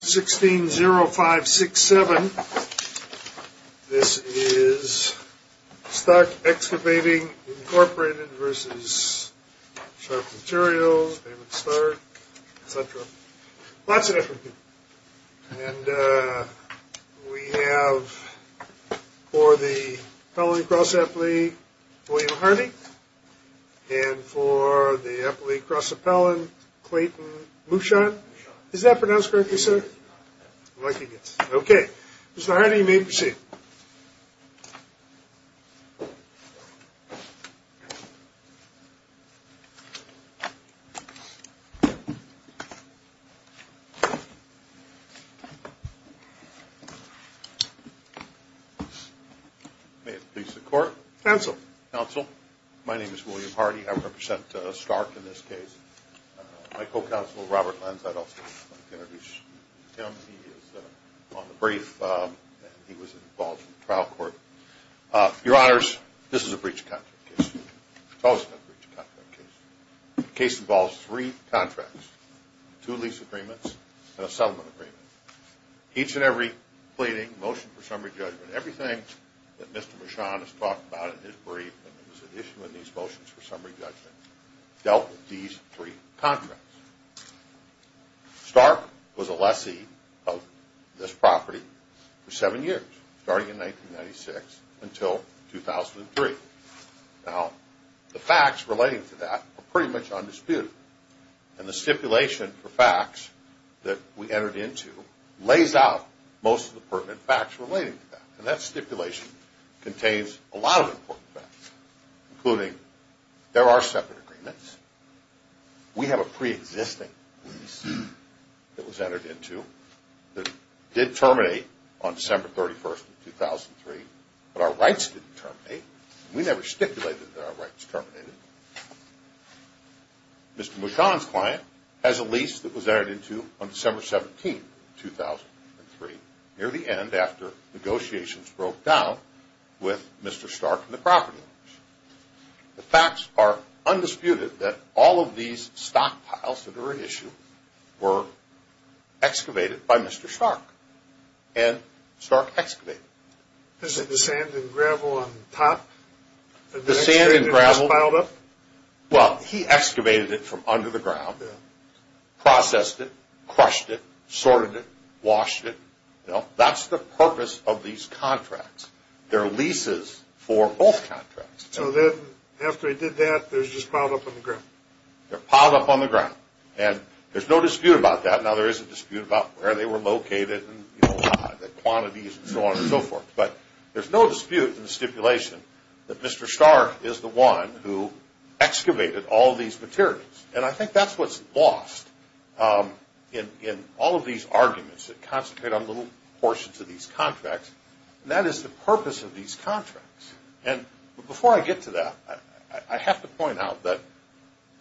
Materials, David Stark, etc. Lots of different people. And we have for the Appellant-Cross Appellee, William Harney, and for the Appellee-Cross Appellant, Clayton Muchon. Is that pronounced correctly, sir? Okay. Mr. Harney, you may proceed. May it please the Court. Counsel. Counsel. My name is William Harney. I represent Stark in this case. My co-counsel, Robert Lentz, I'd also like to introduce him. He is on the brief, and he was involved in the trial court. Your Honors, this is a breach of contract case. It's always been a breach of contract case. The case involves three contracts, two lease agreements, and a settlement agreement. Each and every pleading, motion for summary judgment, everything that Mr. Muchon has talked about in his brief, and there was an issue in these motions for summary judgments, dealt with these three contracts. Stark was a lessee of this property for seven years, starting in 1996 until 2003. Now, the facts relating to that are pretty much undisputed. And the stipulation for facts that we entered into lays out most of the pertinent facts relating to that. And that stipulation contains a lot of important facts, including there are settlement agreements. We have a preexisting lease that was entered into that did terminate on December 31st of 2003, but our rights didn't terminate. We never stipulated that our rights terminated. Mr. Muchon's client has a lease that was Stark and the property. The facts are undisputed that all of these stockpiles that are at issue were excavated by Mr. Stark, and Stark excavated them. This is the sand and gravel on top? The sand and gravel. The excavator just piled up? Well, he excavated it from under the ground, processed it, crushed it, sorted it, washed it. That's the purpose of these contracts. They're leases for both contracts. So then, after he did that, they're just piled up on the ground? They're piled up on the ground. And there's no dispute about that. Now, there is a dispute about where they were located and the quantities and so on and so forth. But there's no dispute in the stipulation that Mr. Stark is the one who excavated all these materials. And I think that's what's lost in all of these arguments that concentrate on little portions of these contracts, and that is the purpose of these contracts. And before I get to that, I have to point out that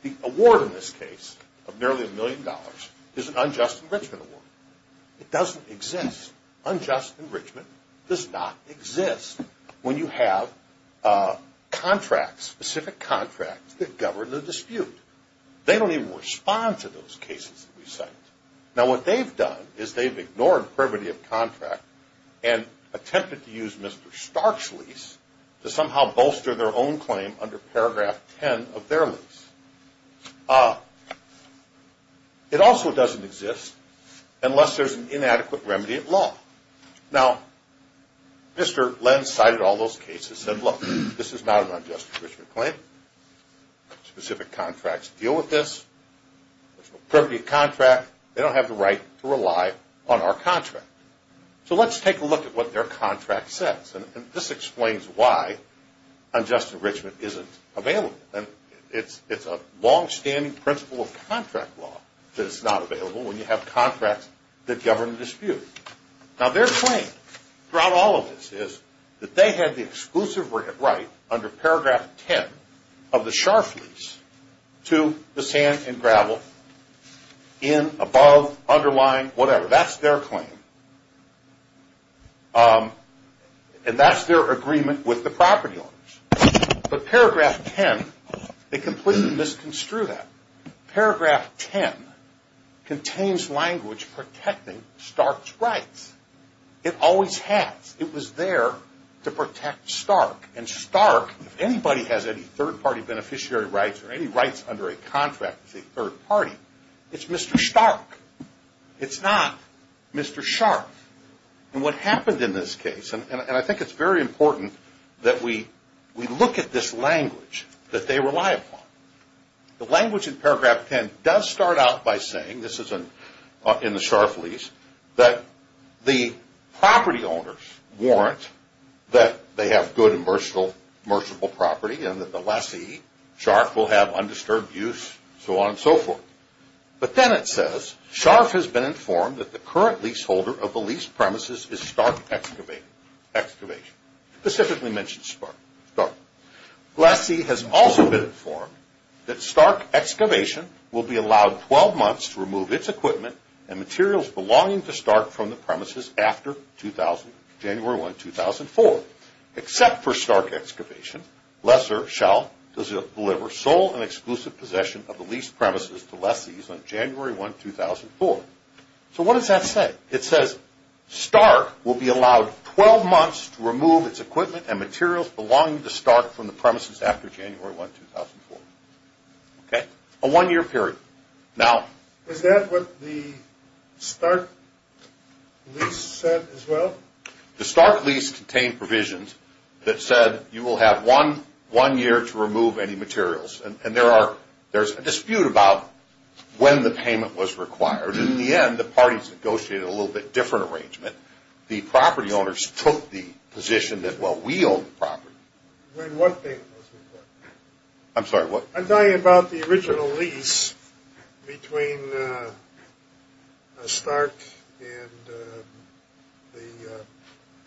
the award in this case of nearly a million dollars is an unjust enrichment award. It doesn't exist. Unjust enrichment does not exist when you have contracts, specific contracts, that govern the dispute. They don't even respond to those cases that we cite. Now, what they've done is they've ignored privity of contract and attempted to use Mr. Stark's lease to somehow bolster their own claim under paragraph 10 of their lease. It also doesn't exist unless there's an inadequate remedy at law. Now, Mr. Lenz cited all those cases and said, look, this is not an unjust enrichment claim. Specific contracts deal with this. There's no privity of contract. They don't have the right to rely on our contract. So let's take a look at what their contract says. And this explains why unjust enrichment isn't available. It's a longstanding principle of contract law that it's not available when you have contracts that govern the dispute. Now, their claim throughout all of this is that they had the exclusive right under paragraph 10 of the Sharf lease to the sand and gravel in, above, underlying, whatever. That's their claim. And that's their agreement with the property owners. But paragraph 10, they completely misconstrued that. Paragraph 10 contains protecting Stark's rights. It always has. It was there to protect Stark. And Stark, if anybody has any third-party beneficiary rights or any rights under a contract with a third party, it's Mr. Stark. It's not Mr. Sharf. And what happened in this case, and I think it's very important that we look at this language that they rely upon. The language in paragraph 10 starts out by saying, this is in the Sharf lease, that the property owners warrant that they have good and merchantable property and that the lessee, Sharf, will have undisturbed use, so on and so forth. But then it says, Sharf has been informed that the current leaseholder of the lease premises is Stark Excavation, specifically mentions Stark. Lessee has also been informed that Stark Excavation will be allowed 12 months to remove its equipment and materials belonging to Stark from the premises after January 1, 2004. Except for Stark Excavation, Lesser shall deliver sole and exclusive possession of the lease premises to lessees on January 1, 2004. So what does that say? It says, Stark will be allowed 12 months to remove its equipment and materials belonging to Stark from the premises after January 1, 2004. Okay? A one-year period. Now... Is that what the Stark lease said as well? The Stark lease contained provisions that said you will have one year to remove any materials. And there's a dispute about when the payment was required. In the end, the property owners took the position that, well, we own the property. Wait, one thing. I'm sorry, what? I'm talking about the original lease between Stark and the...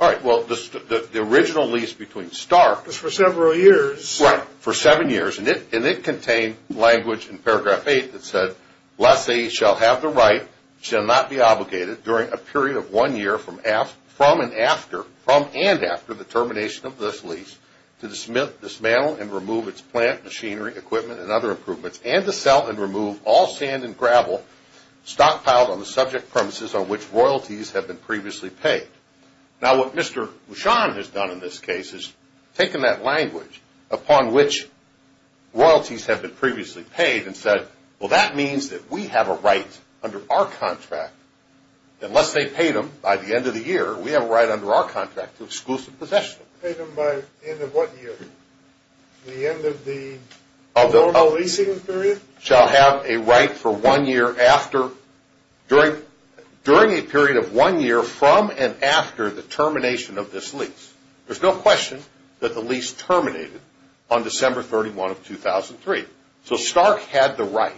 All right, well, the original lease between Stark... Was for several years. Right, for seven years. And it contained language in paragraph eight that said, lessee shall have the right, shall not be obligated, during a period of one year from and after the termination of this lease to dismantle and remove its plant, machinery, equipment, and other improvements, and to sell and remove all sand and gravel stockpiled on the subject premises on which royalties have been previously paid. Now, what Mr. Bouchon has done in this case is taken that language upon which royalties have been previously paid and said, well, that means that we have a right under our contract, unless they paid them by the end of the year, we have a right under our contract to exclusive possession. Paid them by the end of what year? The end of the normal leasing period? Shall have a right for one year after, during a period of one year from and after the termination of this lease. There's no question that the lease terminated on December 31 of 2003. So Stark had the right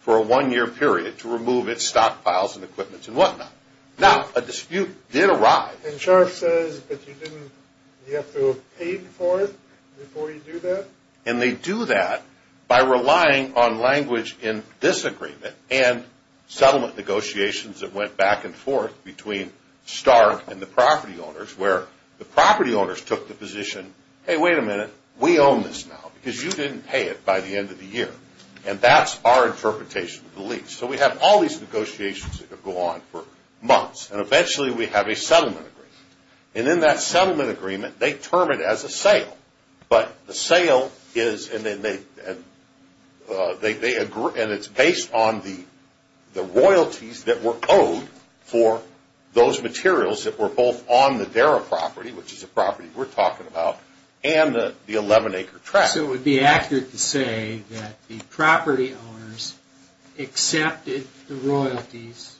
for a one-year period to remove its stockpiles and equipment and whatnot. Now, a dispute did arrive. And Sharf says that you have to have paid for it before you do that? And they do that by relying on language in disagreement and settlement negotiations that went back and forth between Stark and the property owners, where the property owners took the position, hey, wait a minute, we own this now, because you didn't pay it by the end of the year. And that's our interpretation of the lease. So we have all these negotiations that go on for months. And eventually we have a settlement agreement. And in that settlement agreement, they term it as a sale. But the sale is, and it's based on the royalties that were owed for those materials that were both on the Darra property, which is a property we're talking about, and the 11-acre tract. So it would be accurate to say that the property owners accepted the royalties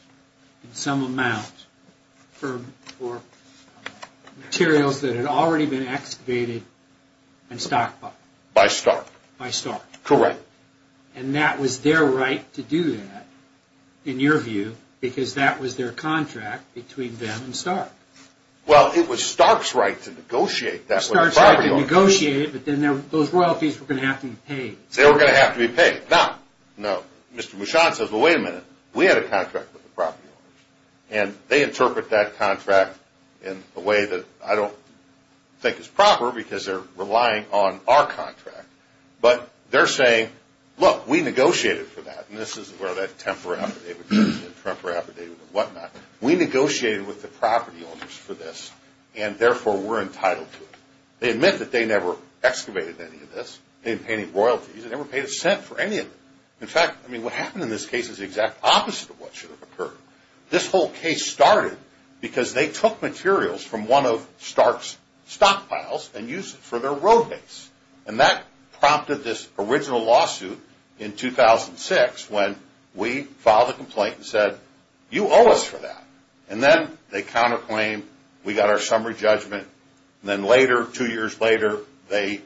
in some amount for materials that had already been excavated and stockpiled? By Stark. By Stark. Correct. And that was their right to do that, in your view, because that was their contract between them and Stark. Well, it was Stark's right to negotiate that with the property owners. Stark's right to negotiate it, but then those royalties were going to have to be paid. They were going to have to be paid. Now, no, Mr. Mouchon says, well, wait a minute, we had a contract with the property owners. And they interpret that contract in a way that I don't think is proper, because they're relying on our contract. But they're saying, look, we negotiated for that. And this is where that temper affidavit comes in, temper affidavit and whatnot. We negotiated with the property owners for this, and therefore we're entitled to it. They admit that they never excavated any of this. They didn't pay any royalties. They never paid a cent for any of it. In fact, I mean, what happened in this case is the exact opposite of what should have occurred. This whole case started because they took materials from one of Stark's stockpiles and used it for their road base. And that prompted this original lawsuit in 2006 when we filed a complaint and said, you owe us for that. And then they counterclaimed, we got our summary judgment, and then later, two years later, they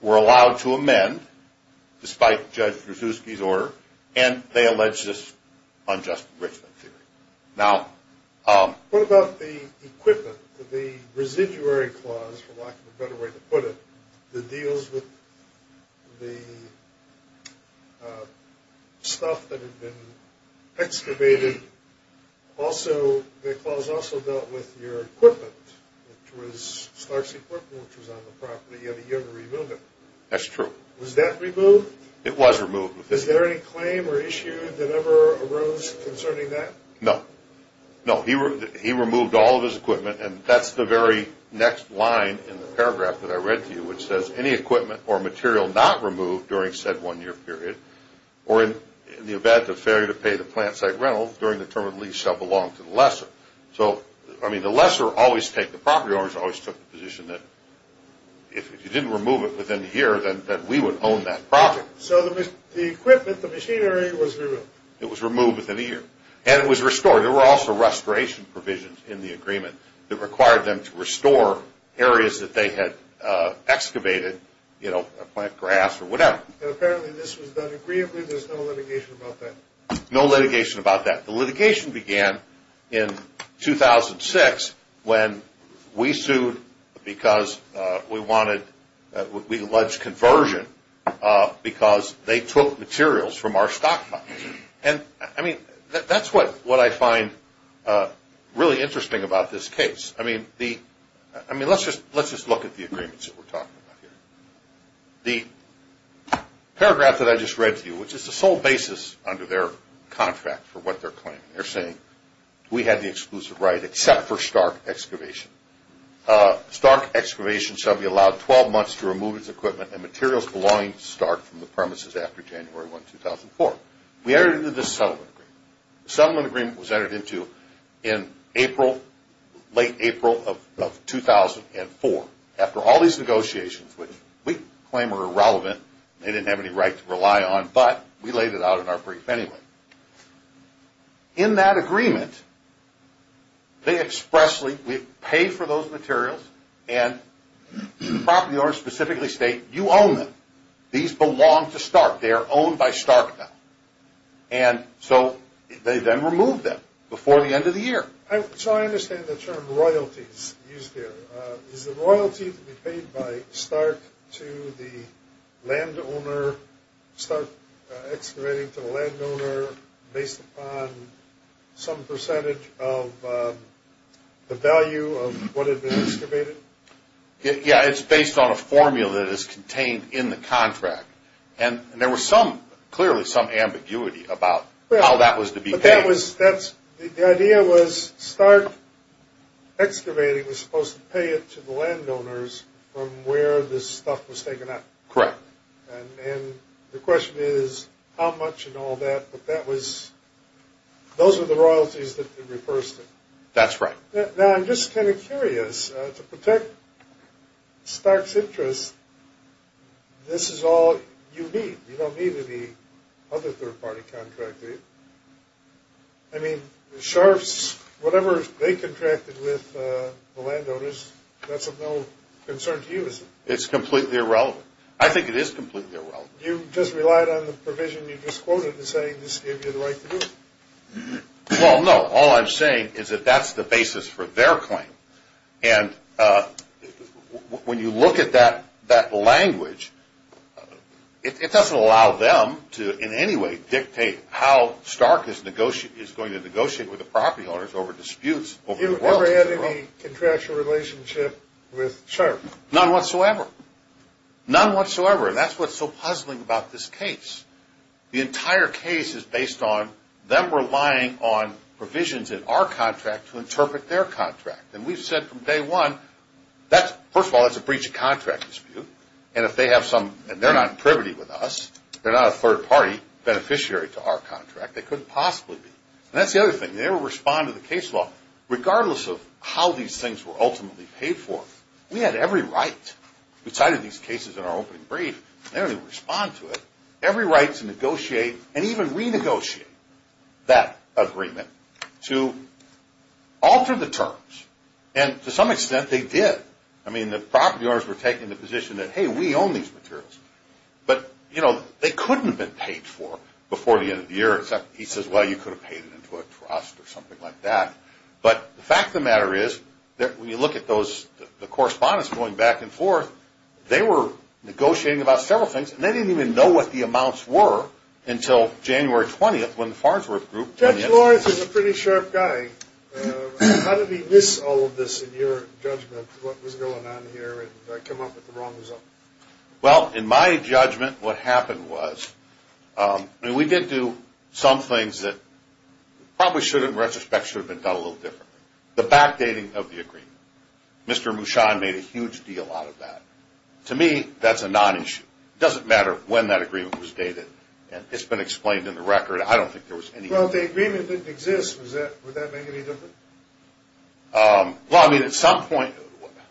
were allowed to amend, despite Judge Brzezinski's order, and they alleged this unjust enrichment theory. Now, what about the equipment, the residuary clause, for lack of a better way to put it, that deals with the stuff that had been excavated? Also, the clause also dealt with your equipment, which was Stark's equipment, which was on the property, yet he never removed it. That's true. Was that removed? It was removed. Is there any claim or issue that ever arose concerning that? No. No, he removed all of his equipment, and that's the very next line in the paragraph that I read to you, which says, any equipment or material not removed during said one-year period, or in the event of failure to pay the plant site rental during the term of lease shall belong to the lesser. So, I mean, the lesser always take the property owners, always took the position that if you didn't remove it within a year, then we would own that property. So the equipment, the machinery was removed. It was removed within a year, and it was restored. There were also restoration provisions in the agreement that required them to restore areas that they had excavated, you know, plant grass or whatever. And apparently this was done agreeably. There's no litigation about that. No litigation about that. The litigation began in 2006 when we sued because we wanted, we alleged conversion because they took materials from our stockpile. And, I mean, that's what I find really interesting about this case. I mean, let's just look at the agreements that we're talking about here. The paragraph that I just read to you, which is the sole basis under their contract for what they're claiming, they're saying we have the exclusive right except for stark excavation. Stark excavation shall be allowed 12 months to remove its equipment and materials belonging to stark from the premises after January 1, 2004. We entered into this settlement agreement. The settlement agreement was entered into in April, late April of 2004. After all these negotiations, which we claim are irrelevant, they didn't have any right to rely on, but we laid it out in our brief anyway. In that agreement, they expressly, we paid for those materials, and the property owners specifically state, you own them. These belong to stark. They are owned by stark now. And so they then remove them before the end of the year. So I understand the term royalties used here. Is the royalty to be paid by stark to the landowner, stark excavating to the landowner, based upon some percentage of the value of what had been excavated? Yeah, it's based on a formula that is contained in the contract. And there was some, clearly some ambiguity about how that was to be paid. The idea was stark excavating was supposed to pay it to the landowners from where this stuff was taken up. Correct. And the question is how much and all that, but that was, those are the royalties that they repursed it. That's right. Now, I'm just kind of curious. To protect stark's interest, this is all you need. You don't need any other third-party contracting. I mean, the sharps, whatever they contracted with the landowners, that's of no concern to you, is it? It's completely irrelevant. I think it is completely irrelevant. You just relied on the provision you just quoted in saying this gave you the right to do it. Well, no. All I'm saying is that that's the basis for their claim. And when you look at that language, it doesn't allow them to in any way dictate how stark is going to negotiate with the property owners over disputes. You never had any contractual relationship with sharps? None whatsoever. None whatsoever. And that's what's so puzzling about this case. The entire case is based on them relying on provisions in our contract to interpret their contract. And we've said from day one, first of all, that's a breach of contract dispute. And if they have some, and they're not in privity with us, they're not a third-party beneficiary to our contract. They couldn't possibly be. And that's the other thing. They will respond to the case law regardless of how these things were ultimately paid for. We had every right. We cited these cases in our opening brief. They don't even respond to it. Every right to negotiate and even renegotiate that agreement to alter the terms. And to some extent, they did. I mean, the property owners were taking the position that, hey, we own these materials. But, you know, they couldn't have been paid for before the end of the year. He says, well, you could have paid it into a trust or something like that. But the fact of the matter is that when you look at the correspondence going back and forth, they were negotiating about several things. And they didn't even know what the amounts were until January 20th when the Farnsworth Group. Judge Lawrence is a pretty sharp guy. How did he miss all of this in your judgment, what was going on here, and come up with the wrong result? Well, in my judgment, what happened was, I mean, we did do some things that probably should have, in retrospect, should have been done a little differently. The backdating of the agreement. Mr. Mushan made a huge deal out of that. To me, that's a non-issue. It doesn't matter when that agreement was dated. It's been explained in the record. I don't think there was any – Well, if the agreement didn't exist, would that make any difference? Well, I mean, at some point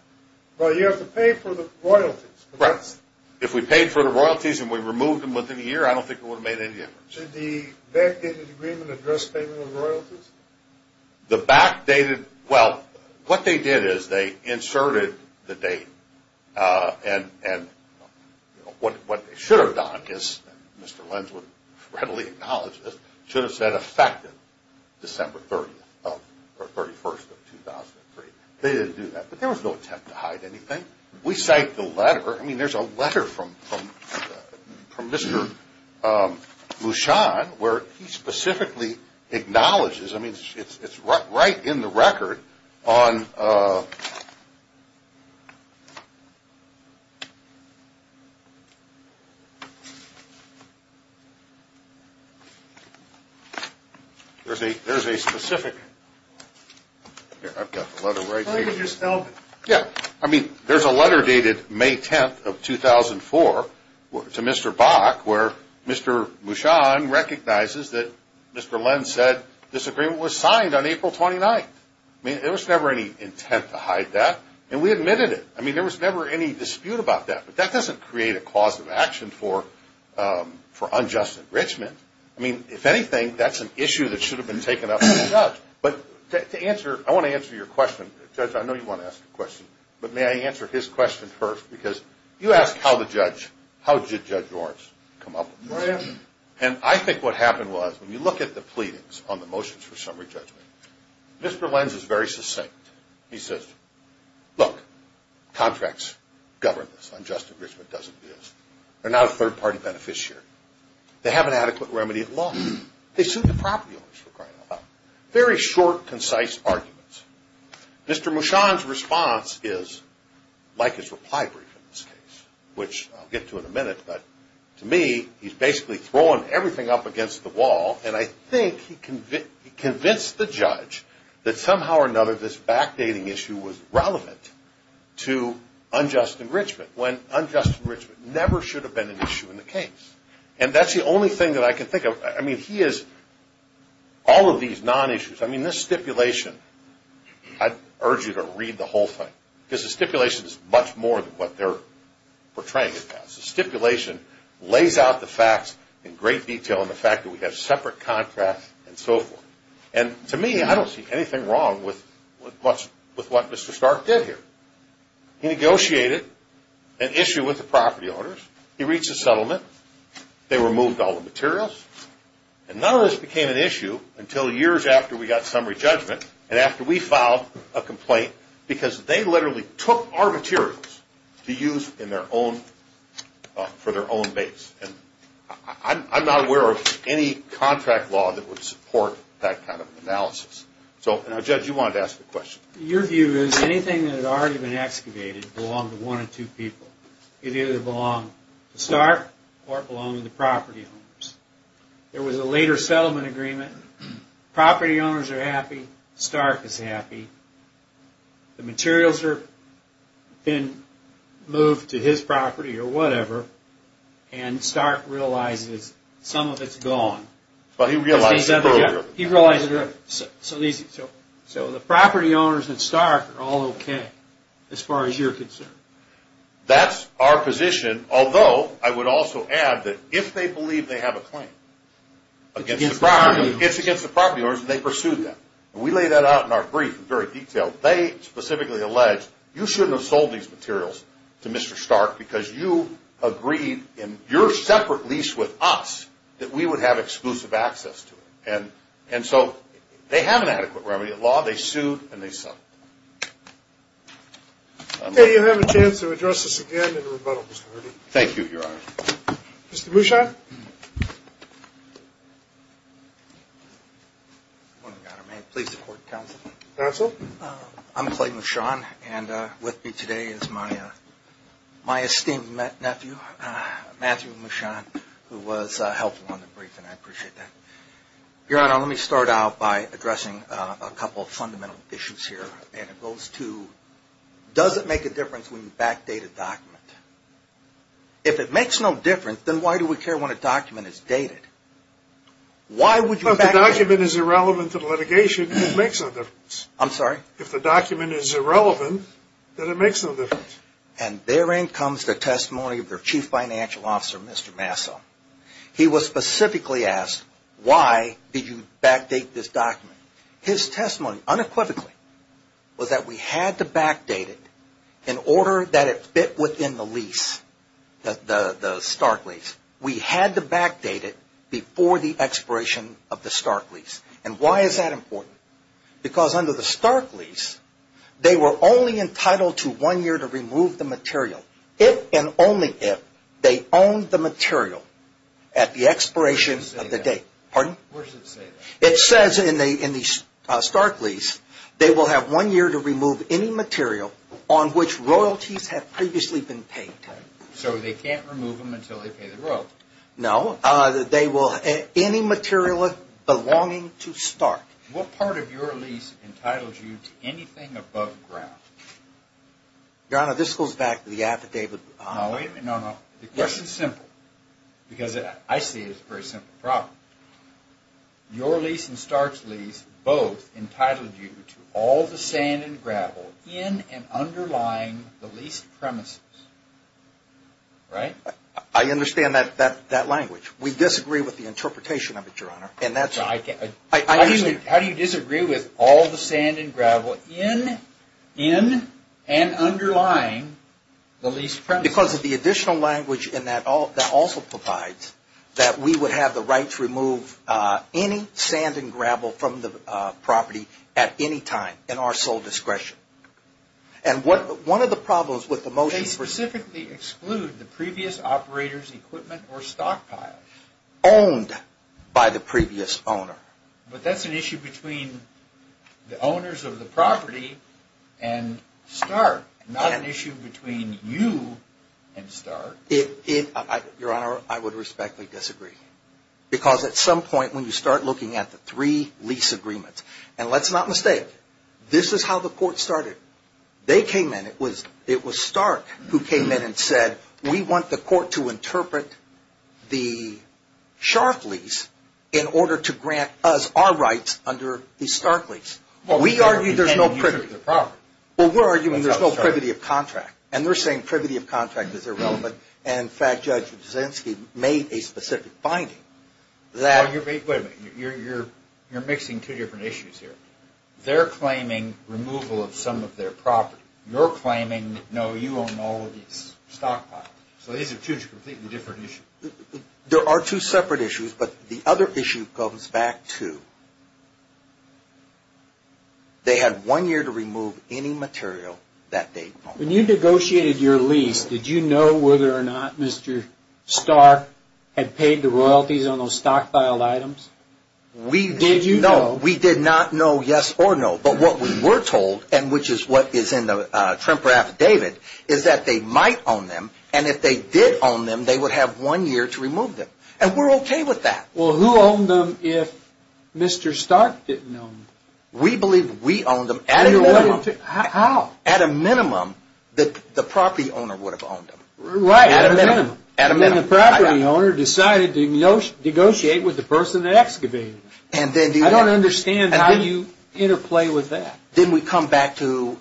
– Well, you have to pay for the royalties. If we paid for the royalties and we removed them within a year, I don't think it would have made any difference. Did the backdated agreement address payment of royalties? The backdated – well, what they did is they inserted the date, and what they should have done is, Mr. Lenz would readily acknowledge this, should have said effective December 30th of – or 31st of 2003. They didn't do that, but there was no attempt to hide anything. We cite the letter. I mean, there's a letter from Mr. Mushan where he specifically acknowledges – I mean, it's right in the record on – there's a specific – here, I've got the letter right here. I think it just spelled it. Yeah, I mean, there's a letter dated May 10th of 2004 to Mr. Bach where Mr. Mushan recognizes that Mr. Lenz said this agreement was signed on April 29th. I mean, there was never any intent to hide that, and we admitted it. I mean, there was never any dispute about that, but that doesn't create a cause of action for unjust enrichment. I mean, if anything, that's an issue that should have been taken up by the judge. But to answer – I want to answer your question. Judge, I know you want to ask a question, but may I answer his question first? Because you asked how the judge – how did Judge Ornst come up with this. And I think what happened was when you look at the pleadings on the motions for summary judgment, Mr. Lenz is very succinct. He says, look, contracts govern this. Unjust enrichment doesn't exist. They're not a third-party beneficiary. They have an adequate remedy at law. They suit the property owners for crying out loud. Very short, concise arguments. Mr. Mushan's response is like his reply brief in this case, which I'll get to in a minute. But to me, he's basically thrown everything up against the wall, and I think he convinced the judge that somehow or another this backdating issue was relevant to unjust enrichment, when unjust enrichment never should have been an issue in the case. And that's the only thing that I can think of. I mean, he has all of these non-issues. I mean, this stipulation, I urge you to read the whole thing, because the stipulation is much more than what they're portraying it as. The stipulation lays out the facts in great detail in the fact that we have separate contracts and so forth. And to me, I don't see anything wrong with what Mr. Stark did here. He negotiated an issue with the property owners. He reached a settlement. They removed all the materials. And none of this became an issue until years after we got summary judgment and after we filed a complaint, because they literally took our materials to use for their own base. And I'm not aware of any contract law that would support that kind of analysis. So, now, Judge, you wanted to ask a question. Your view is anything that had already been excavated belonged to one or two people. It either belonged to Stark or it belonged to the property owners. There was a later settlement agreement. Property owners are happy. Stark is happy. The materials have been moved to his property or whatever. And Stark realizes some of it's gone. But he realized it earlier. He realized it earlier. So, the property owners and Stark are all okay, as far as you're concerned. That's our position. Although, I would also add that if they believe they have a claim against the property owners, they pursued them. We lay that out in our brief in very detail. They specifically allege, you shouldn't have sold these materials to Mr. Stark because you agreed in your separate lease with us that we would have exclusive access to it. And so, they have an adequate remedy in law. They sued and they settled. Okay, you'll have a chance to address this again in a rebuttal, Mr. Herdy. Thank you, Your Honor. Mr. Mouchon. Please support counsel. Counsel. I'm Clay Mouchon, and with me today is my esteemed nephew, Matthew Mouchon, who was helpful in the briefing. I appreciate that. Your Honor, let me start out by addressing a couple of fundamental issues here. And it goes to, does it make a difference when you backdate a document? If it makes no difference, then why do we care when a document is dated? If the document is irrelevant to the litigation, then it makes no difference. I'm sorry? If the document is irrelevant, then it makes no difference. And therein comes the testimony of their chief financial officer, Mr. Masso. He was specifically asked, why did you backdate this document? His testimony, unequivocally, was that we had to backdate it in order that it fit within the lease, the Stark lease. We had to backdate it before the expiration of the Stark lease. And why is that important? Because under the Stark lease, they were only entitled to one year to remove the material. If and only if they owned the material at the expiration of the date. Where does it say that? Pardon? Where does it say that? It says in the Stark lease, they will have one year to remove any material on which royalties have previously been paid. So they can't remove them until they pay the royalties. No. Any material belonging to Stark. What part of your lease entitles you to anything above ground? Your Honor, this goes back to the affidavit. No. The question is simple. Because I see it as a very simple problem. Your lease and Stark's lease both entitled you to all the sand and gravel in and underlying the leased premises. Right? I understand that language. We disagree with the interpretation of it, Your Honor. How do you disagree with all the sand and gravel in and underlying the leased premises? Because of the additional language in that also provides that we would have the right to remove any sand and gravel from the property at any time in our sole discretion. And one of the problems with the motion for ---- They specifically exclude the previous operator's equipment or stockpile. Owned by the previous owner. But that's an issue between the owners of the property and Stark. Not an issue between you and Stark. Your Honor, I would respectfully disagree. Because at some point when you start looking at the three lease agreements, and let's not mistake, this is how the court started. They came in, it was Stark who came in and said, we want the court to interpret the shark lease in order to grant us our rights under the Stark lease. We argue there's no privity. Well, we're arguing there's no privity of contract. And they're saying privity of contract is irrelevant. And in fact, Judge Kuczynski made a specific finding. Wait a minute. You're mixing two different issues here. They're claiming removal of some of their property. You're claiming, no, you own all of these stockpiles. So these are two completely different issues. There are two separate issues. But the other issue comes back to they had one year to remove any material that they owned. When you negotiated your lease, did you know whether or not Mr. Stark had paid the royalties on those stockpiled items? Did you know? No, we did not know yes or no. But what we were told, and which is what is in the Tremper affidavit, is that they might own them. And if they did own them, they would have one year to remove them. And we're okay with that. Well, who owned them if Mr. Stark didn't own them? We believe we owned them at a minimum. How? At a minimum that the property owner would have owned them. Right. At a minimum. And the property owner decided to negotiate with the person that excavated them. I don't understand how you interplay with that. Then we come back to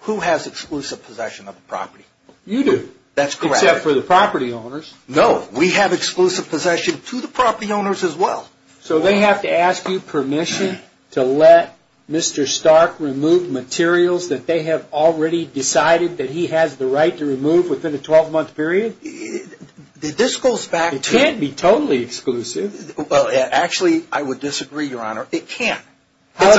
who has exclusive possession of the property? You do. That's correct. Except for the property owners. No, we have exclusive possession to the property owners as well. So they have to ask you permission to let Mr. Stark remove materials that they have already decided that he has the right to remove within a 12-month period? This goes back to... It can't be totally exclusive. Actually, I would disagree, Your Honor. It can't. How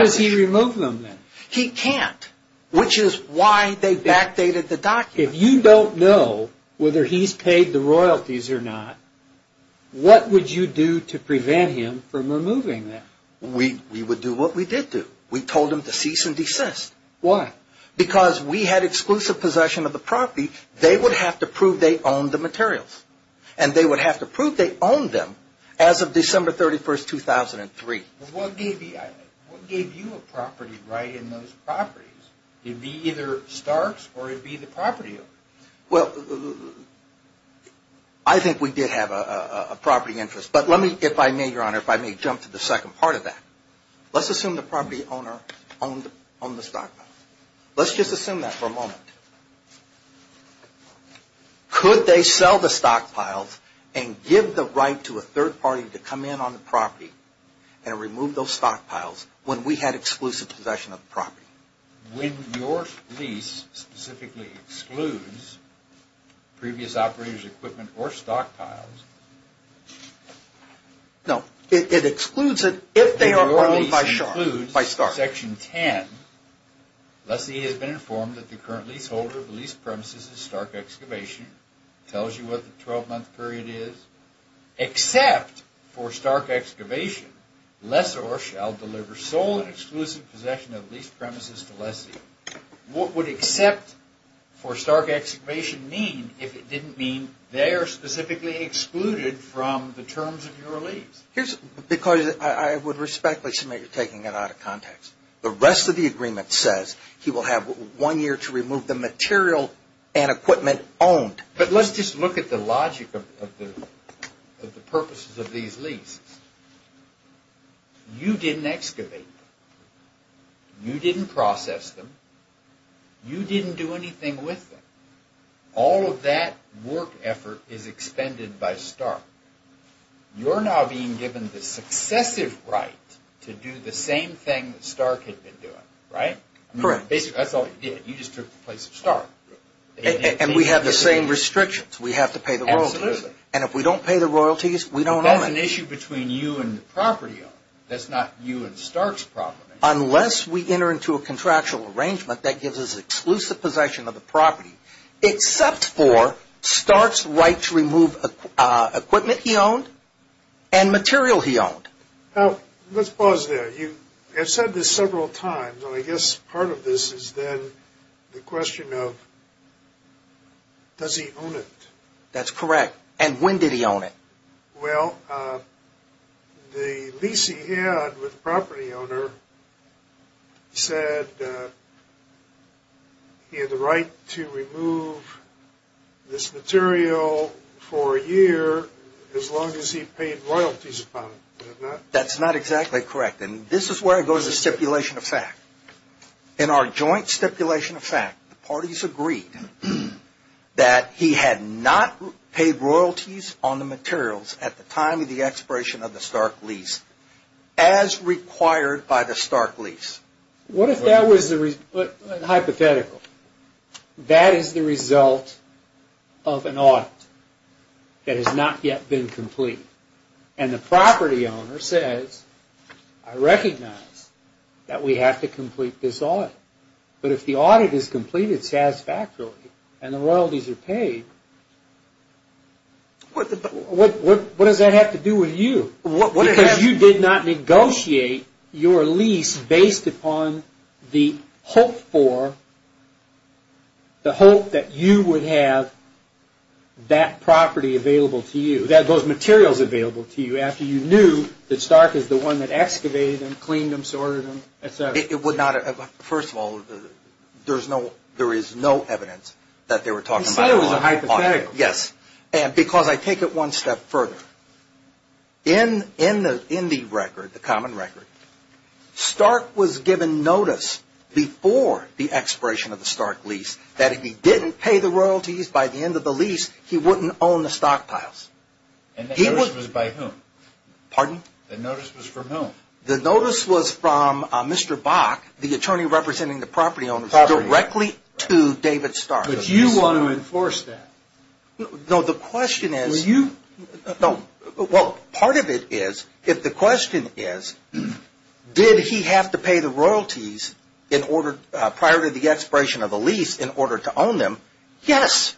does he remove them then? He can't, which is why they backdated the document. If you don't know whether he's paid the royalties or not, what would you do to prevent him from removing them? We would do what we did do. We told him to cease and desist. Why? Because we had exclusive possession of the property. They would have to prove they owned the materials. And they would have to prove they owned them as of December 31, 2003. What gave you a property right in those properties? It would be either Stark's or it would be the property owner's. Well, I think we did have a property interest. But let me, if I may, Your Honor, if I may jump to the second part of that. Let's assume the property owner owned the stockpile. Let's just assume that for a moment. Could they sell the stockpiles and give the right to a third party to come in on the property and remove those stockpiles when we had exclusive possession of the property? When your lease specifically excludes previous operators' equipment or stockpiles. No, it excludes it if they are owned by Stark. Section 10. Lessie has been informed that the current leaseholder of the lease premises is Stark Excavation. Tells you what the 12-month period is. Except for Stark Excavation, Lessor shall deliver sole and exclusive possession of the lease premises to Lessie. What would except for Stark Excavation mean if it didn't mean they are specifically excluded from the terms of your lease? Because I would respectfully submit you're taking it out of context. The rest of the agreement says he will have one year to remove the material and equipment owned. But let's just look at the logic of the purposes of these leases. You didn't excavate them. You didn't process them. You didn't do anything with them. All of that work effort is expended by Stark. You're now being given the successive right to do the same thing Stark had been doing, right? Correct. That's all you did. You just took the place of Stark. And we have the same restrictions. We have to pay the royalties. Absolutely. And if we don't pay the royalties, we don't own it. That's an issue between you and the property owner. That's not you and Stark's problem. Unless we enter into a contractual arrangement that gives us exclusive possession of the property, except for Stark's right to remove equipment he owned and material he owned. Now, let's pause there. You have said this several times, and I guess part of this is then the question of does he own it? That's correct. And when did he own it? Well, the lease he had with the property owner said he had the right to remove this material for a year as long as he paid royalties upon it. That's not exactly correct, and this is where it goes to stipulation of fact. In our joint stipulation of fact, the parties agreed that he had not paid royalties on the materials at the time of the expiration of the Stark lease as required by the Stark lease. What if that was hypothetical? That is the result of an audit that has not yet been completed. And the property owner says, I recognize that we have to complete this audit. But if the audit is completed satisfactorily and the royalties are paid, what does that have to do with you? Because you did not negotiate your lease based upon the hope that you would have that property available to you. That those materials available to you after you knew that Stark is the one that excavated them, cleaned them, sorted them, et cetera. First of all, there is no evidence that they were talking about an audit. You said it was a hypothetical. Yes, because I take it one step further. In the record, the common record, Stark was given notice before the expiration of the Stark lease that if he didn't pay the royalties by the end of the lease, he wouldn't own the stockpiles. And the notice was by whom? Pardon? The notice was from whom? The notice was from Mr. Bach, the attorney representing the property owners, directly to David Stark. But you want to enforce that. No, the question is... Well, you... Yes,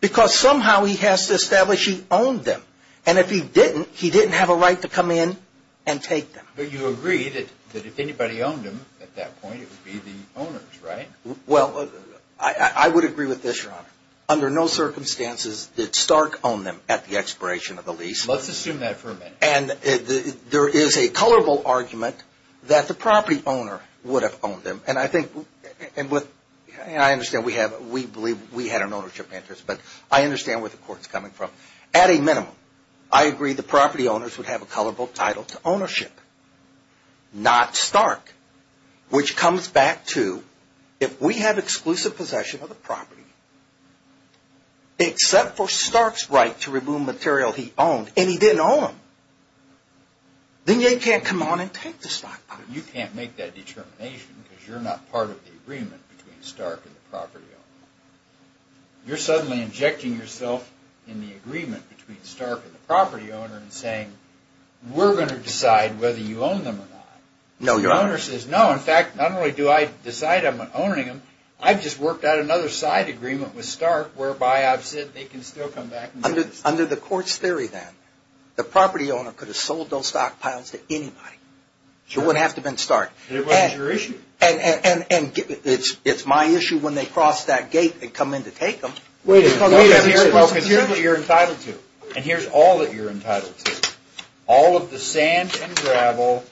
because somehow he has to establish he owned them. And if he didn't, he didn't have a right to come in and take them. But you agree that if anybody owned them at that point, it would be the owners, right? Well, I would agree with this, Your Honor. Under no circumstances did Stark own them at the expiration of the lease. Let's assume that for a minute. And there is a colorable argument that the property owner would have owned them. And I think, and I understand we have, we believe we had an ownership interest, but I understand where the court is coming from. At a minimum, I agree the property owners would have a colorable title to ownership, not Stark. Which comes back to, if we have exclusive possession of the property, except for Stark's right to remove material he owned, and he didn't own them, then you can't come on and take the stockpiles. But you can't make that determination because you're not part of the agreement between Stark and the property owner. You're suddenly injecting yourself in the agreement between Stark and the property owner and saying, we're going to decide whether you own them or not. No, Your Honor. The owner says, no, in fact, not only do I decide I'm owning them, I've just worked out another side agreement with Stark, whereby I've said they can still come back and do this. Under the court's theory, then, the property owner could have sold those stockpiles to anybody. It wouldn't have to have been Stark. It wasn't your issue. And it's my issue when they cross that gate and come in to take them. Wait a minute. Here's what you're entitled to. And here's all that you're entitled to. All of the sand and gravel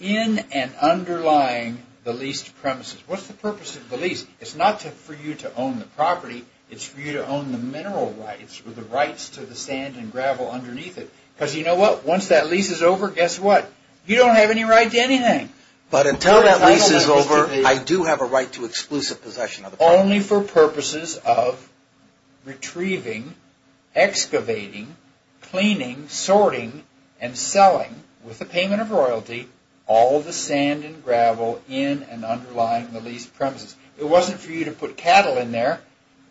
in and underlying the leased premises. What's the purpose of the lease? It's not for you to own the property. It's for you to own the mineral rights or the rights to the sand and gravel underneath it. Because you know what? Once that lease is over, guess what? You don't have any right to anything. But until that lease is over, I do have a right to exclusive possession of the property. Only for purposes of retrieving, excavating, cleaning, sorting, and selling, with the payment of royalty, all the sand and gravel in and underlying the leased premises. It wasn't for you to put cattle in there.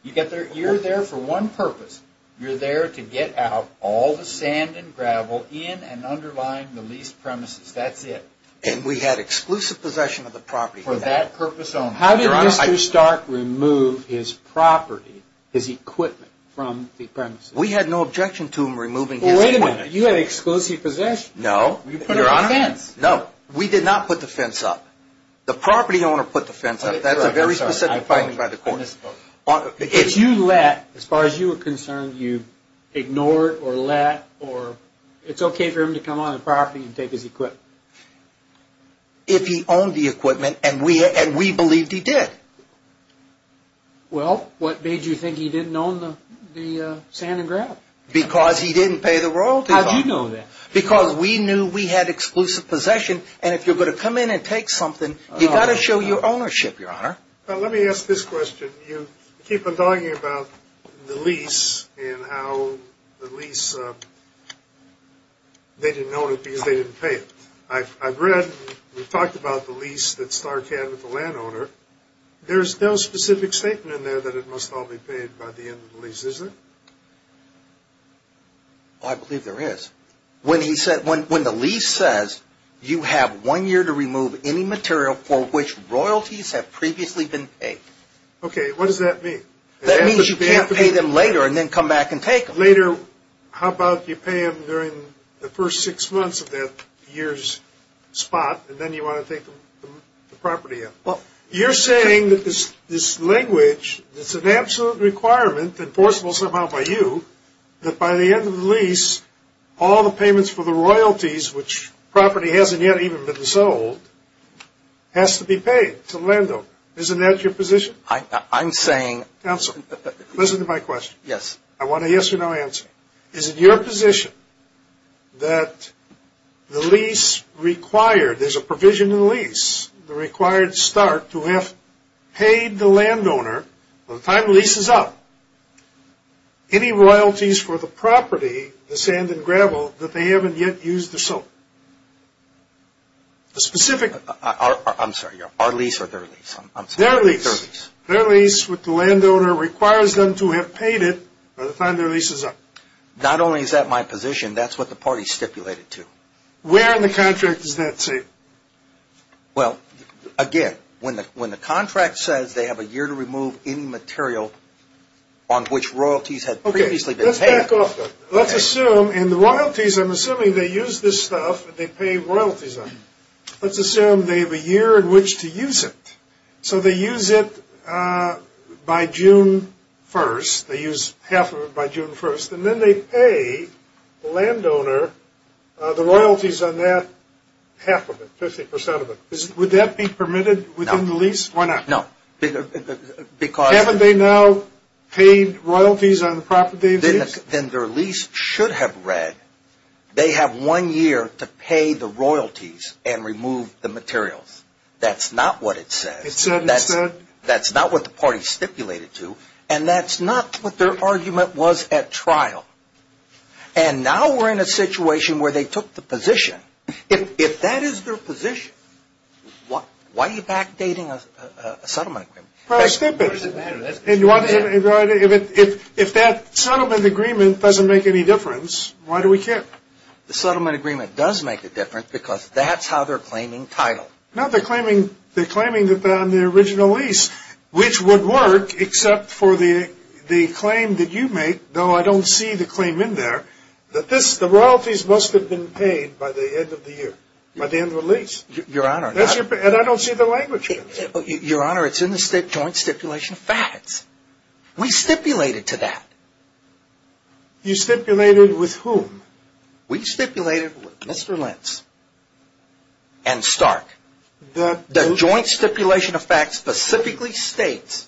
You're there for one purpose. You're there to get out all the sand and gravel in and underlying the leased premises. That's it. And we had exclusive possession of the property. For that purpose only. How did Mr. Stark remove his property, his equipment, from the premises? We had no objection to him removing his equipment. Wait a minute. You had exclusive possession. No. You put it on the fence. No. We did not put the fence up. The property owner put the fence up. That's a very specific finding by the court. If you let, as far as you were concerned, you ignored or let, it's okay for him to come on the property and take his equipment? If he owned the equipment, and we believed he did. Well, what made you think he didn't own the sand and gravel? Because he didn't pay the royalty. How did you know that? Because we knew we had exclusive possession, and if you're going to come in and take something, you've got to show your ownership, Your Honor. Let me ask this question. You keep on talking about the lease and how the lease, they didn't own it because they didn't pay it. I've read, we've talked about the lease that Stark had with the landowner. There's no specific statement in there that it must all be paid by the end of the lease, is there? I believe there is. When the lease says, you have one year to remove any material for which royalties have previously been paid. Okay, what does that mean? That means you can't pay them later and then come back and take them. Later, how about you pay them during the first six months of that year's spot, and then you want to take the property in. You're saying that this language, it's an absolute requirement, enforceable somehow by you, that by the end of the lease, all the payments for the royalties, which property hasn't yet even been sold, has to be paid to the landowner. Isn't that your position? I'm saying. Counsel, listen to my question. Yes. I want a yes or no answer. Is it your position that the lease required, there's a provision in the lease, the required start to have paid the landowner by the time the lease is up, any royalties for the property, the sand and gravel, that they haven't yet used or sold? The specific. I'm sorry. Our lease or their lease? Their lease. Their lease. Their lease with the landowner requires them to have paid it by the time their lease is up. Not only is that my position, that's what the party stipulated too. Where in the contract does that say? Well, again, when the contract says they have a year to remove any material on which royalties had previously been paid. Okay. Let's back off. Let's assume in the royalties, I'm assuming they use this stuff, they pay royalties on it. Let's assume they have a year in which to use it. So they use it by June 1st. They use half of it by June 1st. And then they pay the landowner the royalties on that half of it, 50% of it. Would that be permitted within the lease? No. Why not? No. Because. Haven't they now paid royalties on the property they've used? Then their lease should have read they have one year to pay the royalties and remove the materials. That's not what it says. That's not what the party stipulated too. And that's not what their argument was at trial. And now we're in a situation where they took the position. If that is their position, why are you backdating a settlement agreement? If that settlement agreement doesn't make any difference, why do we care? The settlement agreement does make a difference because that's how they're claiming title. No, they're claiming that on the original lease, which would work except for the claim that you make, though I don't see the claim in there, that the royalties must have been paid by the end of the year, by the end of the lease. Your Honor. And I don't see the language. Your Honor, it's in the Joint Stipulation of Facts. We stipulated to that. You stipulated with whom? We stipulated with Mr. Lentz and Stark. The Joint Stipulation of Facts specifically states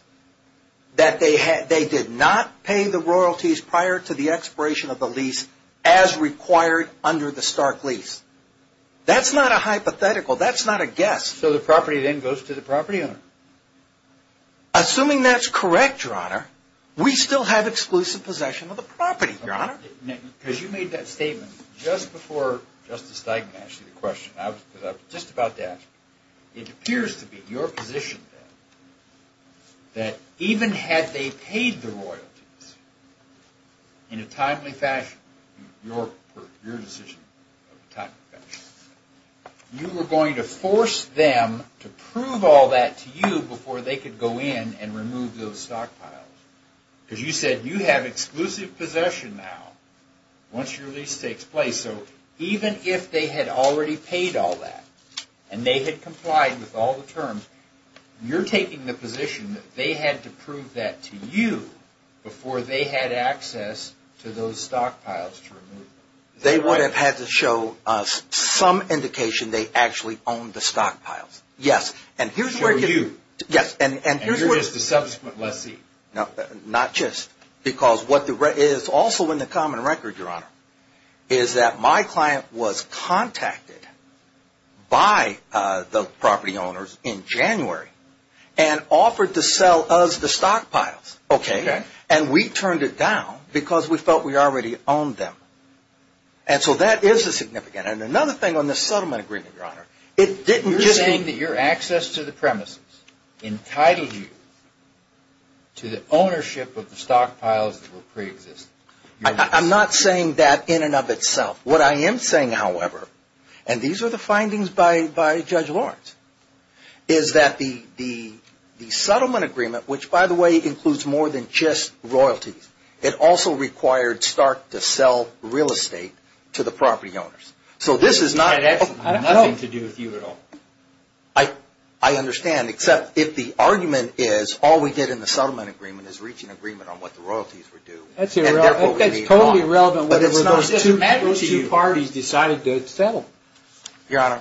that they did not pay the royalties prior to the expiration of the lease as required under the Stark lease. That's not a hypothetical. That's not a guess. So the property then goes to the property owner? Assuming that's correct, Your Honor, we still have exclusive possession of the property, Your Honor. Because you made that statement just before Justice Steigman asked you the question. I was just about to ask you. It appears to be your position, then, that even had they paid the royalties in a timely fashion, your decision of a timely fashion, you were going to force them to prove all that to you before they could go in and remove those stockpiles. Because you said you have exclusive possession now once your lease takes place. So even if they had already paid all that and they had complied with all the terms, you're taking the position that they had to prove that to you before they had access to those stockpiles to remove them. They would have had to show us some indication they actually owned the stockpiles. Yes. Sure, you. Yes. And you're just a subsequent lessee. Not just. Because what is also in the common record, Your Honor, is that my client was contacted by the property owners in January and offered to sell us the stockpiles. Okay. And we turned it down because we felt we already owned them. And so that is a significant. And another thing on this settlement agreement, Your Honor, it didn't just... ownership of the stockpiles that will preexist. I'm not saying that in and of itself. What I am saying, however, and these are the findings by Judge Lawrence, is that the settlement agreement, which, by the way, includes more than just royalties, it also required Stark to sell real estate to the property owners. So this is not... It has nothing to do with you at all. I understand. Except if the argument is all we did in the settlement agreement is reach an agreement on what the royalties were due. That's irrelevant. And therefore, we're being wrong. That's totally irrelevant. But it's not. Those two parties decided to settle. Your Honor,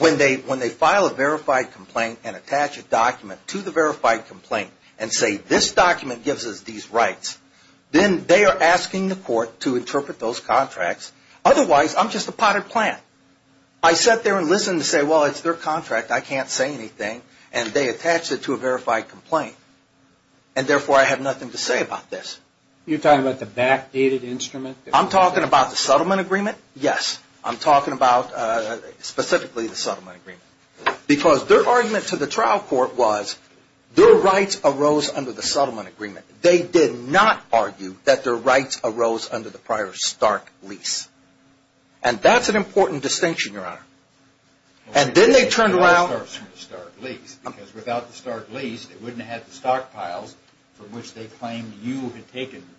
when they file a verified complaint and attach a document to the verified complaint and say this document gives us these rights, then they are asking the court to interpret those contracts. Otherwise, I'm just a potted plant. I sat there and listened to say, well, it's their contract. I can't say anything. And they attached it to a verified complaint. And therefore, I have nothing to say about this. You're talking about the backdated instrument? I'm talking about the settlement agreement? Yes. I'm talking about specifically the settlement agreement. Because their argument to the trial court was their rights arose under the settlement agreement. They did not argue that their rights arose under the prior Stark lease. And that's an important distinction, Your Honor. And then they turned around. It all starts from the Stark lease. Because without the Stark lease, they wouldn't have the stockpiles from which they claimed you had taken them.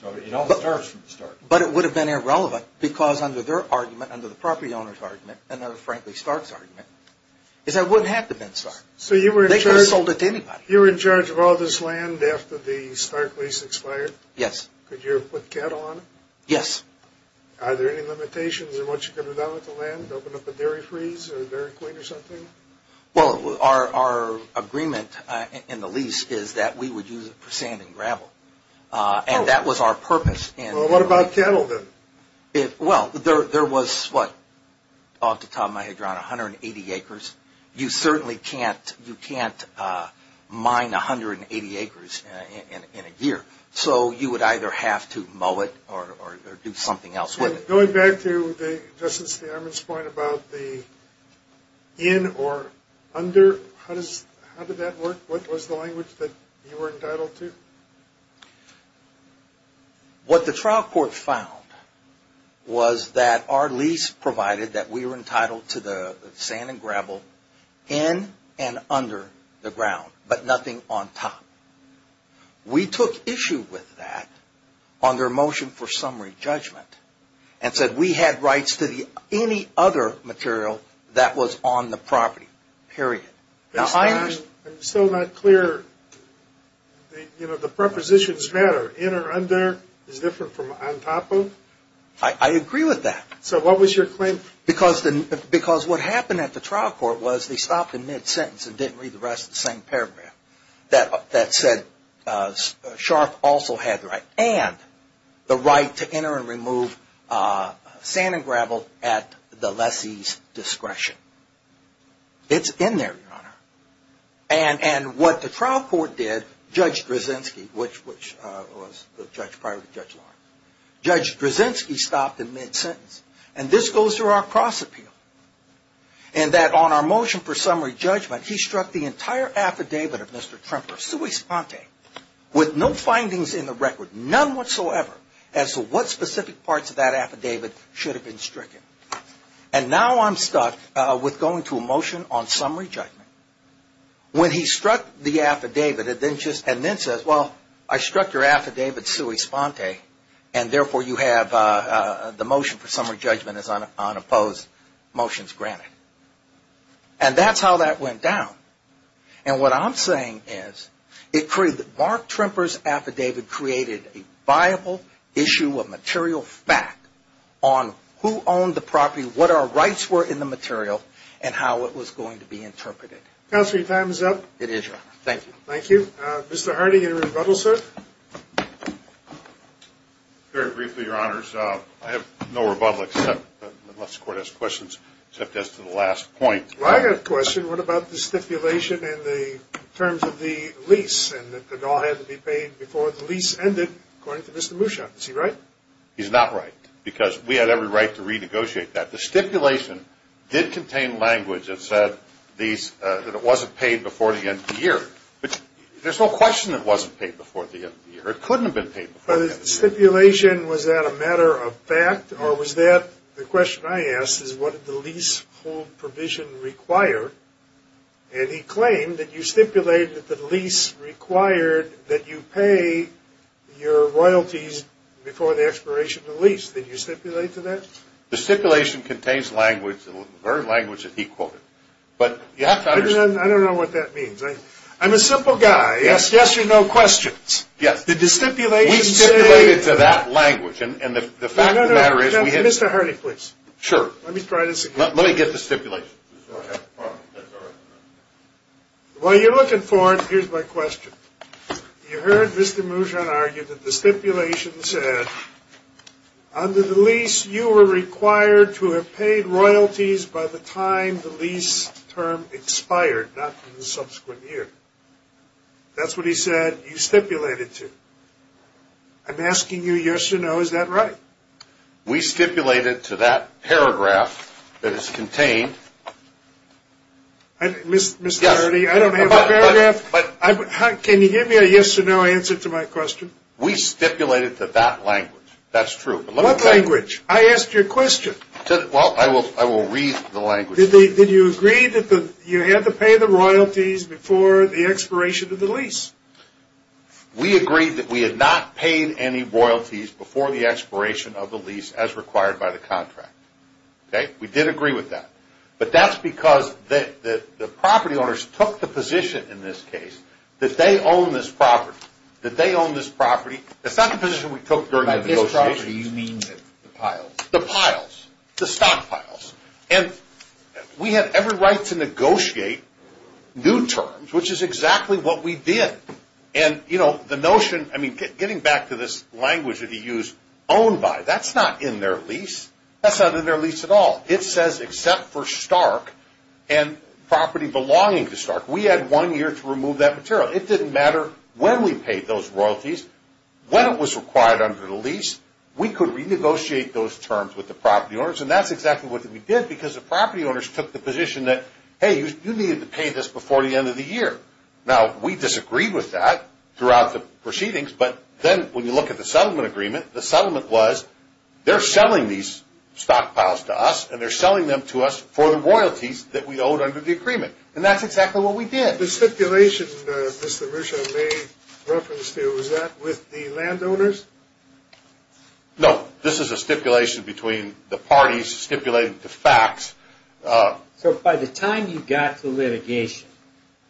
So it all starts from the Stark lease. But it would have been irrelevant because under their argument, under the property owner's argument, and under, frankly, Stark's argument, is that it wouldn't have to have been Stark. So you were in charge of all this land after the Stark lease expired? Yes. Could you have put cattle on it? Yes. Are there any limitations in what you could have done with the land? Open up a dairy freeze or a dairy queen or something? Well, our agreement in the lease is that we would use it for sand and gravel. And that was our purpose. Well, what about cattle then? Well, there was what? Off the top of my head, Your Honor, 180 acres. You certainly can't mine 180 acres in a year. So you would either have to mow it or do something else with it. Going back to Justice Ammon's point about the in or under, how did that work? What was the language that you were entitled to? What the trial court found was that our lease provided that we were entitled to the sand and gravel in and under the ground, but nothing on top. We took issue with that under a motion for summary judgment and said we had rights to any other material that was on the property, period. I'm still not clear. You know, the prepositions matter. In or under is different from on top of. I agree with that. So what was your claim? Because what happened at the trial court was they stopped in mid-sentence and didn't read the rest of the same paragraph that said Scharf also had the right and the right to enter and remove sand and gravel at the lessee's discretion. It's in there, Your Honor. And what the trial court did, Judge Drzezinski, which was the judge prior to Judge Lawrence, Judge Drzezinski stopped in mid-sentence, and this goes through our cross appeal, and that on our motion for summary judgment he struck the entire affidavit of Mr. Tremper, sui sponte, with no findings in the record, none whatsoever, as to what specific parts of that affidavit should have been stricken. And now I'm stuck with going to a motion on summary judgment when he struck the affidavit and then says, well, I struck your affidavit sui sponte, and therefore you have the motion for summary judgment as unopposed motions granted. And that's how that went down. And what I'm saying is Mark Tremper's affidavit created a viable issue of material fact on who owned the property, what our rights were in the material, and how it was going to be interpreted. Counsel, your time is up. It is, Your Honor. Thank you. Thank you. Mr. Hardy, any rebuttal, sir? Very briefly, Your Honors. I have no rebuttal, unless the Court has questions, except as to the last point. Well, I have a question. What about the stipulation in the terms of the lease and that it all had to be paid before the lease ended, according to Mr. Mushak? Is he right? He's not right, because we had every right to renegotiate that. The stipulation did contain language that said these – that it wasn't paid before the end of the year. But there's no question it wasn't paid before the end of the year. It couldn't have been paid before the end of the year. But the stipulation, was that a matter of fact, or was that – the question I asked is what did the leasehold provision require? And he claimed that you stipulated that the lease required that you pay your royalties before the expiration of the lease. Did you stipulate to that? The stipulation contains language, the very language that he quoted. But you have to understand – I don't know what that means. I'm a simple guy. Yes, yes or no questions. Yes. Did the stipulation say – We stipulated to that language. And the fact of the matter is – No, no, no. Mr. Hardy, please. Sure. Let me try this again. Let me get the stipulation. While you're looking for it, here's my question. You heard Mr. Moujon argue that the stipulation said under the lease you were required to have paid royalties by the time the lease term expired, not in the subsequent year. That's what he said you stipulated to. I'm asking you yes or no. Is that right? We stipulated to that paragraph that is contained. Mr. Hardy, I don't have a paragraph. Can you give me a yes or no answer to my question? We stipulated to that language. That's true. What language? I asked you a question. Well, I will read the language. Did you agree that you had to pay the royalties before the expiration of the lease? We agreed that we had not paid any royalties before the expiration of the lease as required by the contract. Okay? We did agree with that. But that's because the property owners took the position in this case that they own this property. That they own this property. It's not the position we took during the negotiation. By this property, you mean the piles. The piles. The stockpiles. And we had every right to negotiate new terms, which is exactly what we did. And, you know, the notion, I mean, getting back to this language that he used, owned by. That's not in their lease. That's not in their lease at all. It says except for Stark and property belonging to Stark. We had one year to remove that material. It didn't matter when we paid those royalties. When it was required under the lease, we could renegotiate those terms with the property owners. And that's exactly what we did because the property owners took the position that, hey, you needed to pay this before the end of the year. Now, we disagreed with that throughout the proceedings. But then when you look at the settlement agreement, the settlement was they're selling these stockpiles to us, and they're selling them to us for the royalties that we owed under the agreement. And that's exactly what we did. The stipulation, Mr. Ruscio, may reference to, was that with the landowners? No. This is a stipulation between the parties stipulating the facts. So by the time you got to litigation,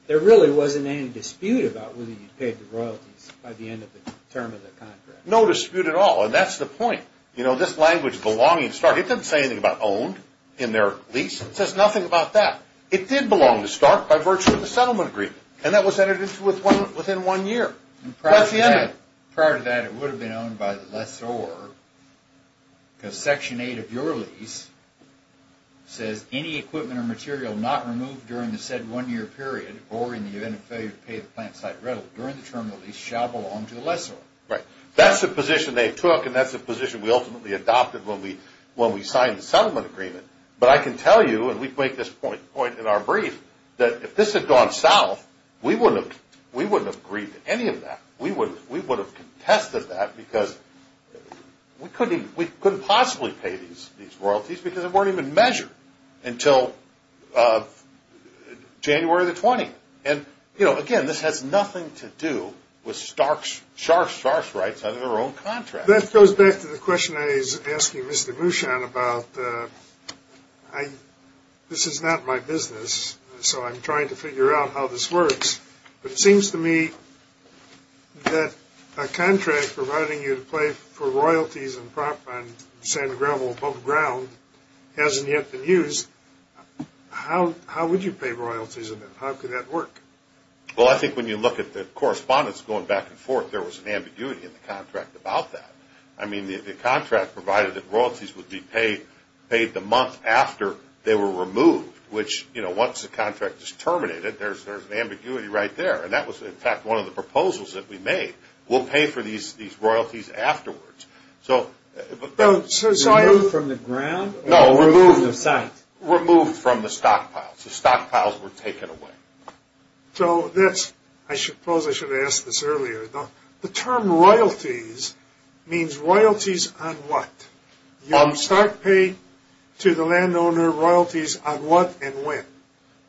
there really wasn't any dispute about whether you paid the royalties by the end of the term of the contract? No dispute at all. And that's the point. You know, this language, belonging to Stark, it doesn't say anything about owned in their lease. It says nothing about that. It did belong to Stark by virtue of the settlement agreement. And that was entered into within one year. Prior to that, it would have been owned by the lessor because Section 8 of your lease says any equipment or material not removed during the said one-year period or in the event of failure to pay the plant site rental during the term of the lease shall belong to the lessor. Right. That's the position they took, and that's the position we ultimately adopted when we signed the settlement agreement. But I can tell you, and we make this point in our brief, that if this had gone south, we wouldn't have agreed to any of that. We would have contested that because we couldn't possibly pay these royalties because they weren't even measured until January the 20th. And, you know, again, this has nothing to do with Stark's rights under their own contract. That goes back to the question I was asking Mr. Mushan about. This is not my business, so I'm trying to figure out how this works. But it seems to me that a contract providing you to pay for royalties and prop on sand and gravel above ground hasn't yet been used. How would you pay royalties on that? How could that work? Well, I think when you look at the correspondence going back and forth, there was an ambiguity in the contract about that. I mean, the contract provided that royalties would be paid the month after they were removed, which, you know, once the contract is terminated, there's an ambiguity right there. And that was, in fact, one of the proposals that we made. We'll pay for these royalties afterwards. So I... Removed from the ground? No. Or removed from the site? Removed from the stockpiles. The stockpiles were taken away. So this, I suppose I should have asked this earlier. The term royalties means royalties on what? You start paying to the landowner royalties on what and when?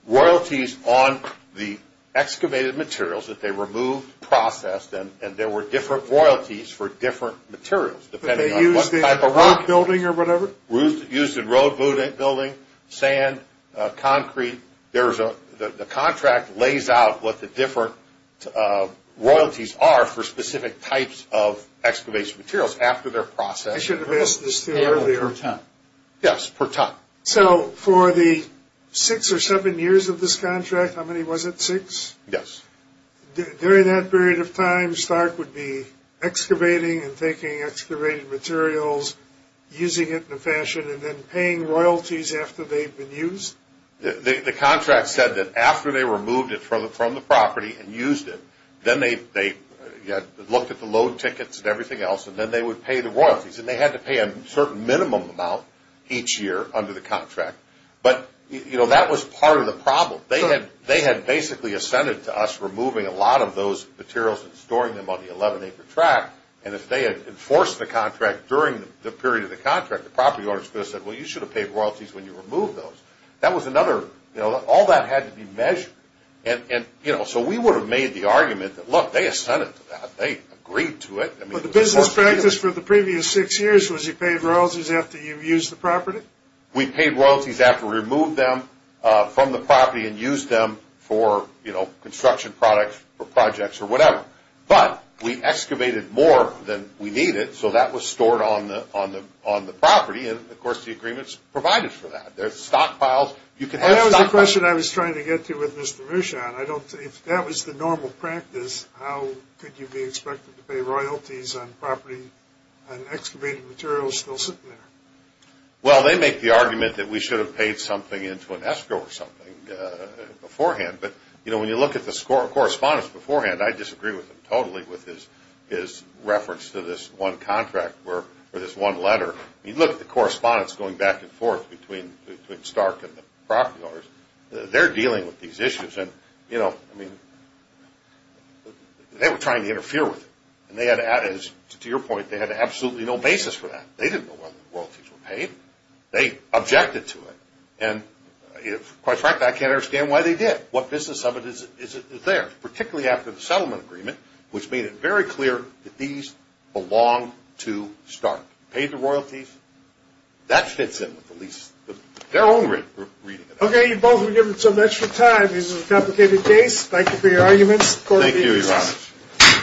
Royalties on the excavated materials that they removed, processed, and there were different royalties for different materials depending on what type of rock. They used in a road building or whatever? Used in road building, sand, concrete. The contract lays out what the different royalties are for specific types of excavation materials after they're processed. I should have asked this earlier. Yes, per ton. So for the six or seven years of this contract, how many was it, six? Yes. During that period of time, Stark would be excavating and taking excavated materials, using it in a fashion, and then paying royalties after they've been used? The contract said that after they removed it from the property and used it, then they looked at the load tickets and everything else, and then they would pay the royalties, and they had to pay a certain minimum amount each year under the contract, but that was part of the problem. They had basically assented to us removing a lot of those materials and storing them on the 11-acre track, and if they had enforced the contract during the period of the contract, the property owners could have said, well, you should have paid royalties when you removed those. All that had to be measured. So we would have made the argument that, look, they assented to that. They agreed to it. But the business practice for the previous six years was you paid royalties after you used the property? We paid royalties after we removed them from the property and used them for construction products or projects or whatever, but we excavated more than we needed, so that was stored on the property, and, of course, the agreements provided for that. There's stockpiles. That was the question I was trying to get to with Mr. Rochon. If that was the normal practice, how could you be expected to pay royalties on property and excavated materials still sitting there? Well, they make the argument that we should have paid something into an escrow or something beforehand, but when you look at the correspondence beforehand, I disagree totally with his reference to this one contract or this one letter. You look at the correspondence going back and forth between Stark and the property owners. They're dealing with these issues, and, you know, I mean, they were trying to interfere with it, and to your point, they had absolutely no basis for that. They didn't know whether the royalties were paid. They objected to it, and quite frankly, I can't understand why they did. What business of it is there, particularly after the settlement agreement, which made it very clear that these belonged to Stark. You paid the royalties. That fits in with at least their own reading of it. Okay, you both have given so much time. This is a complicated case. Thank you for your arguments. Thank you very much.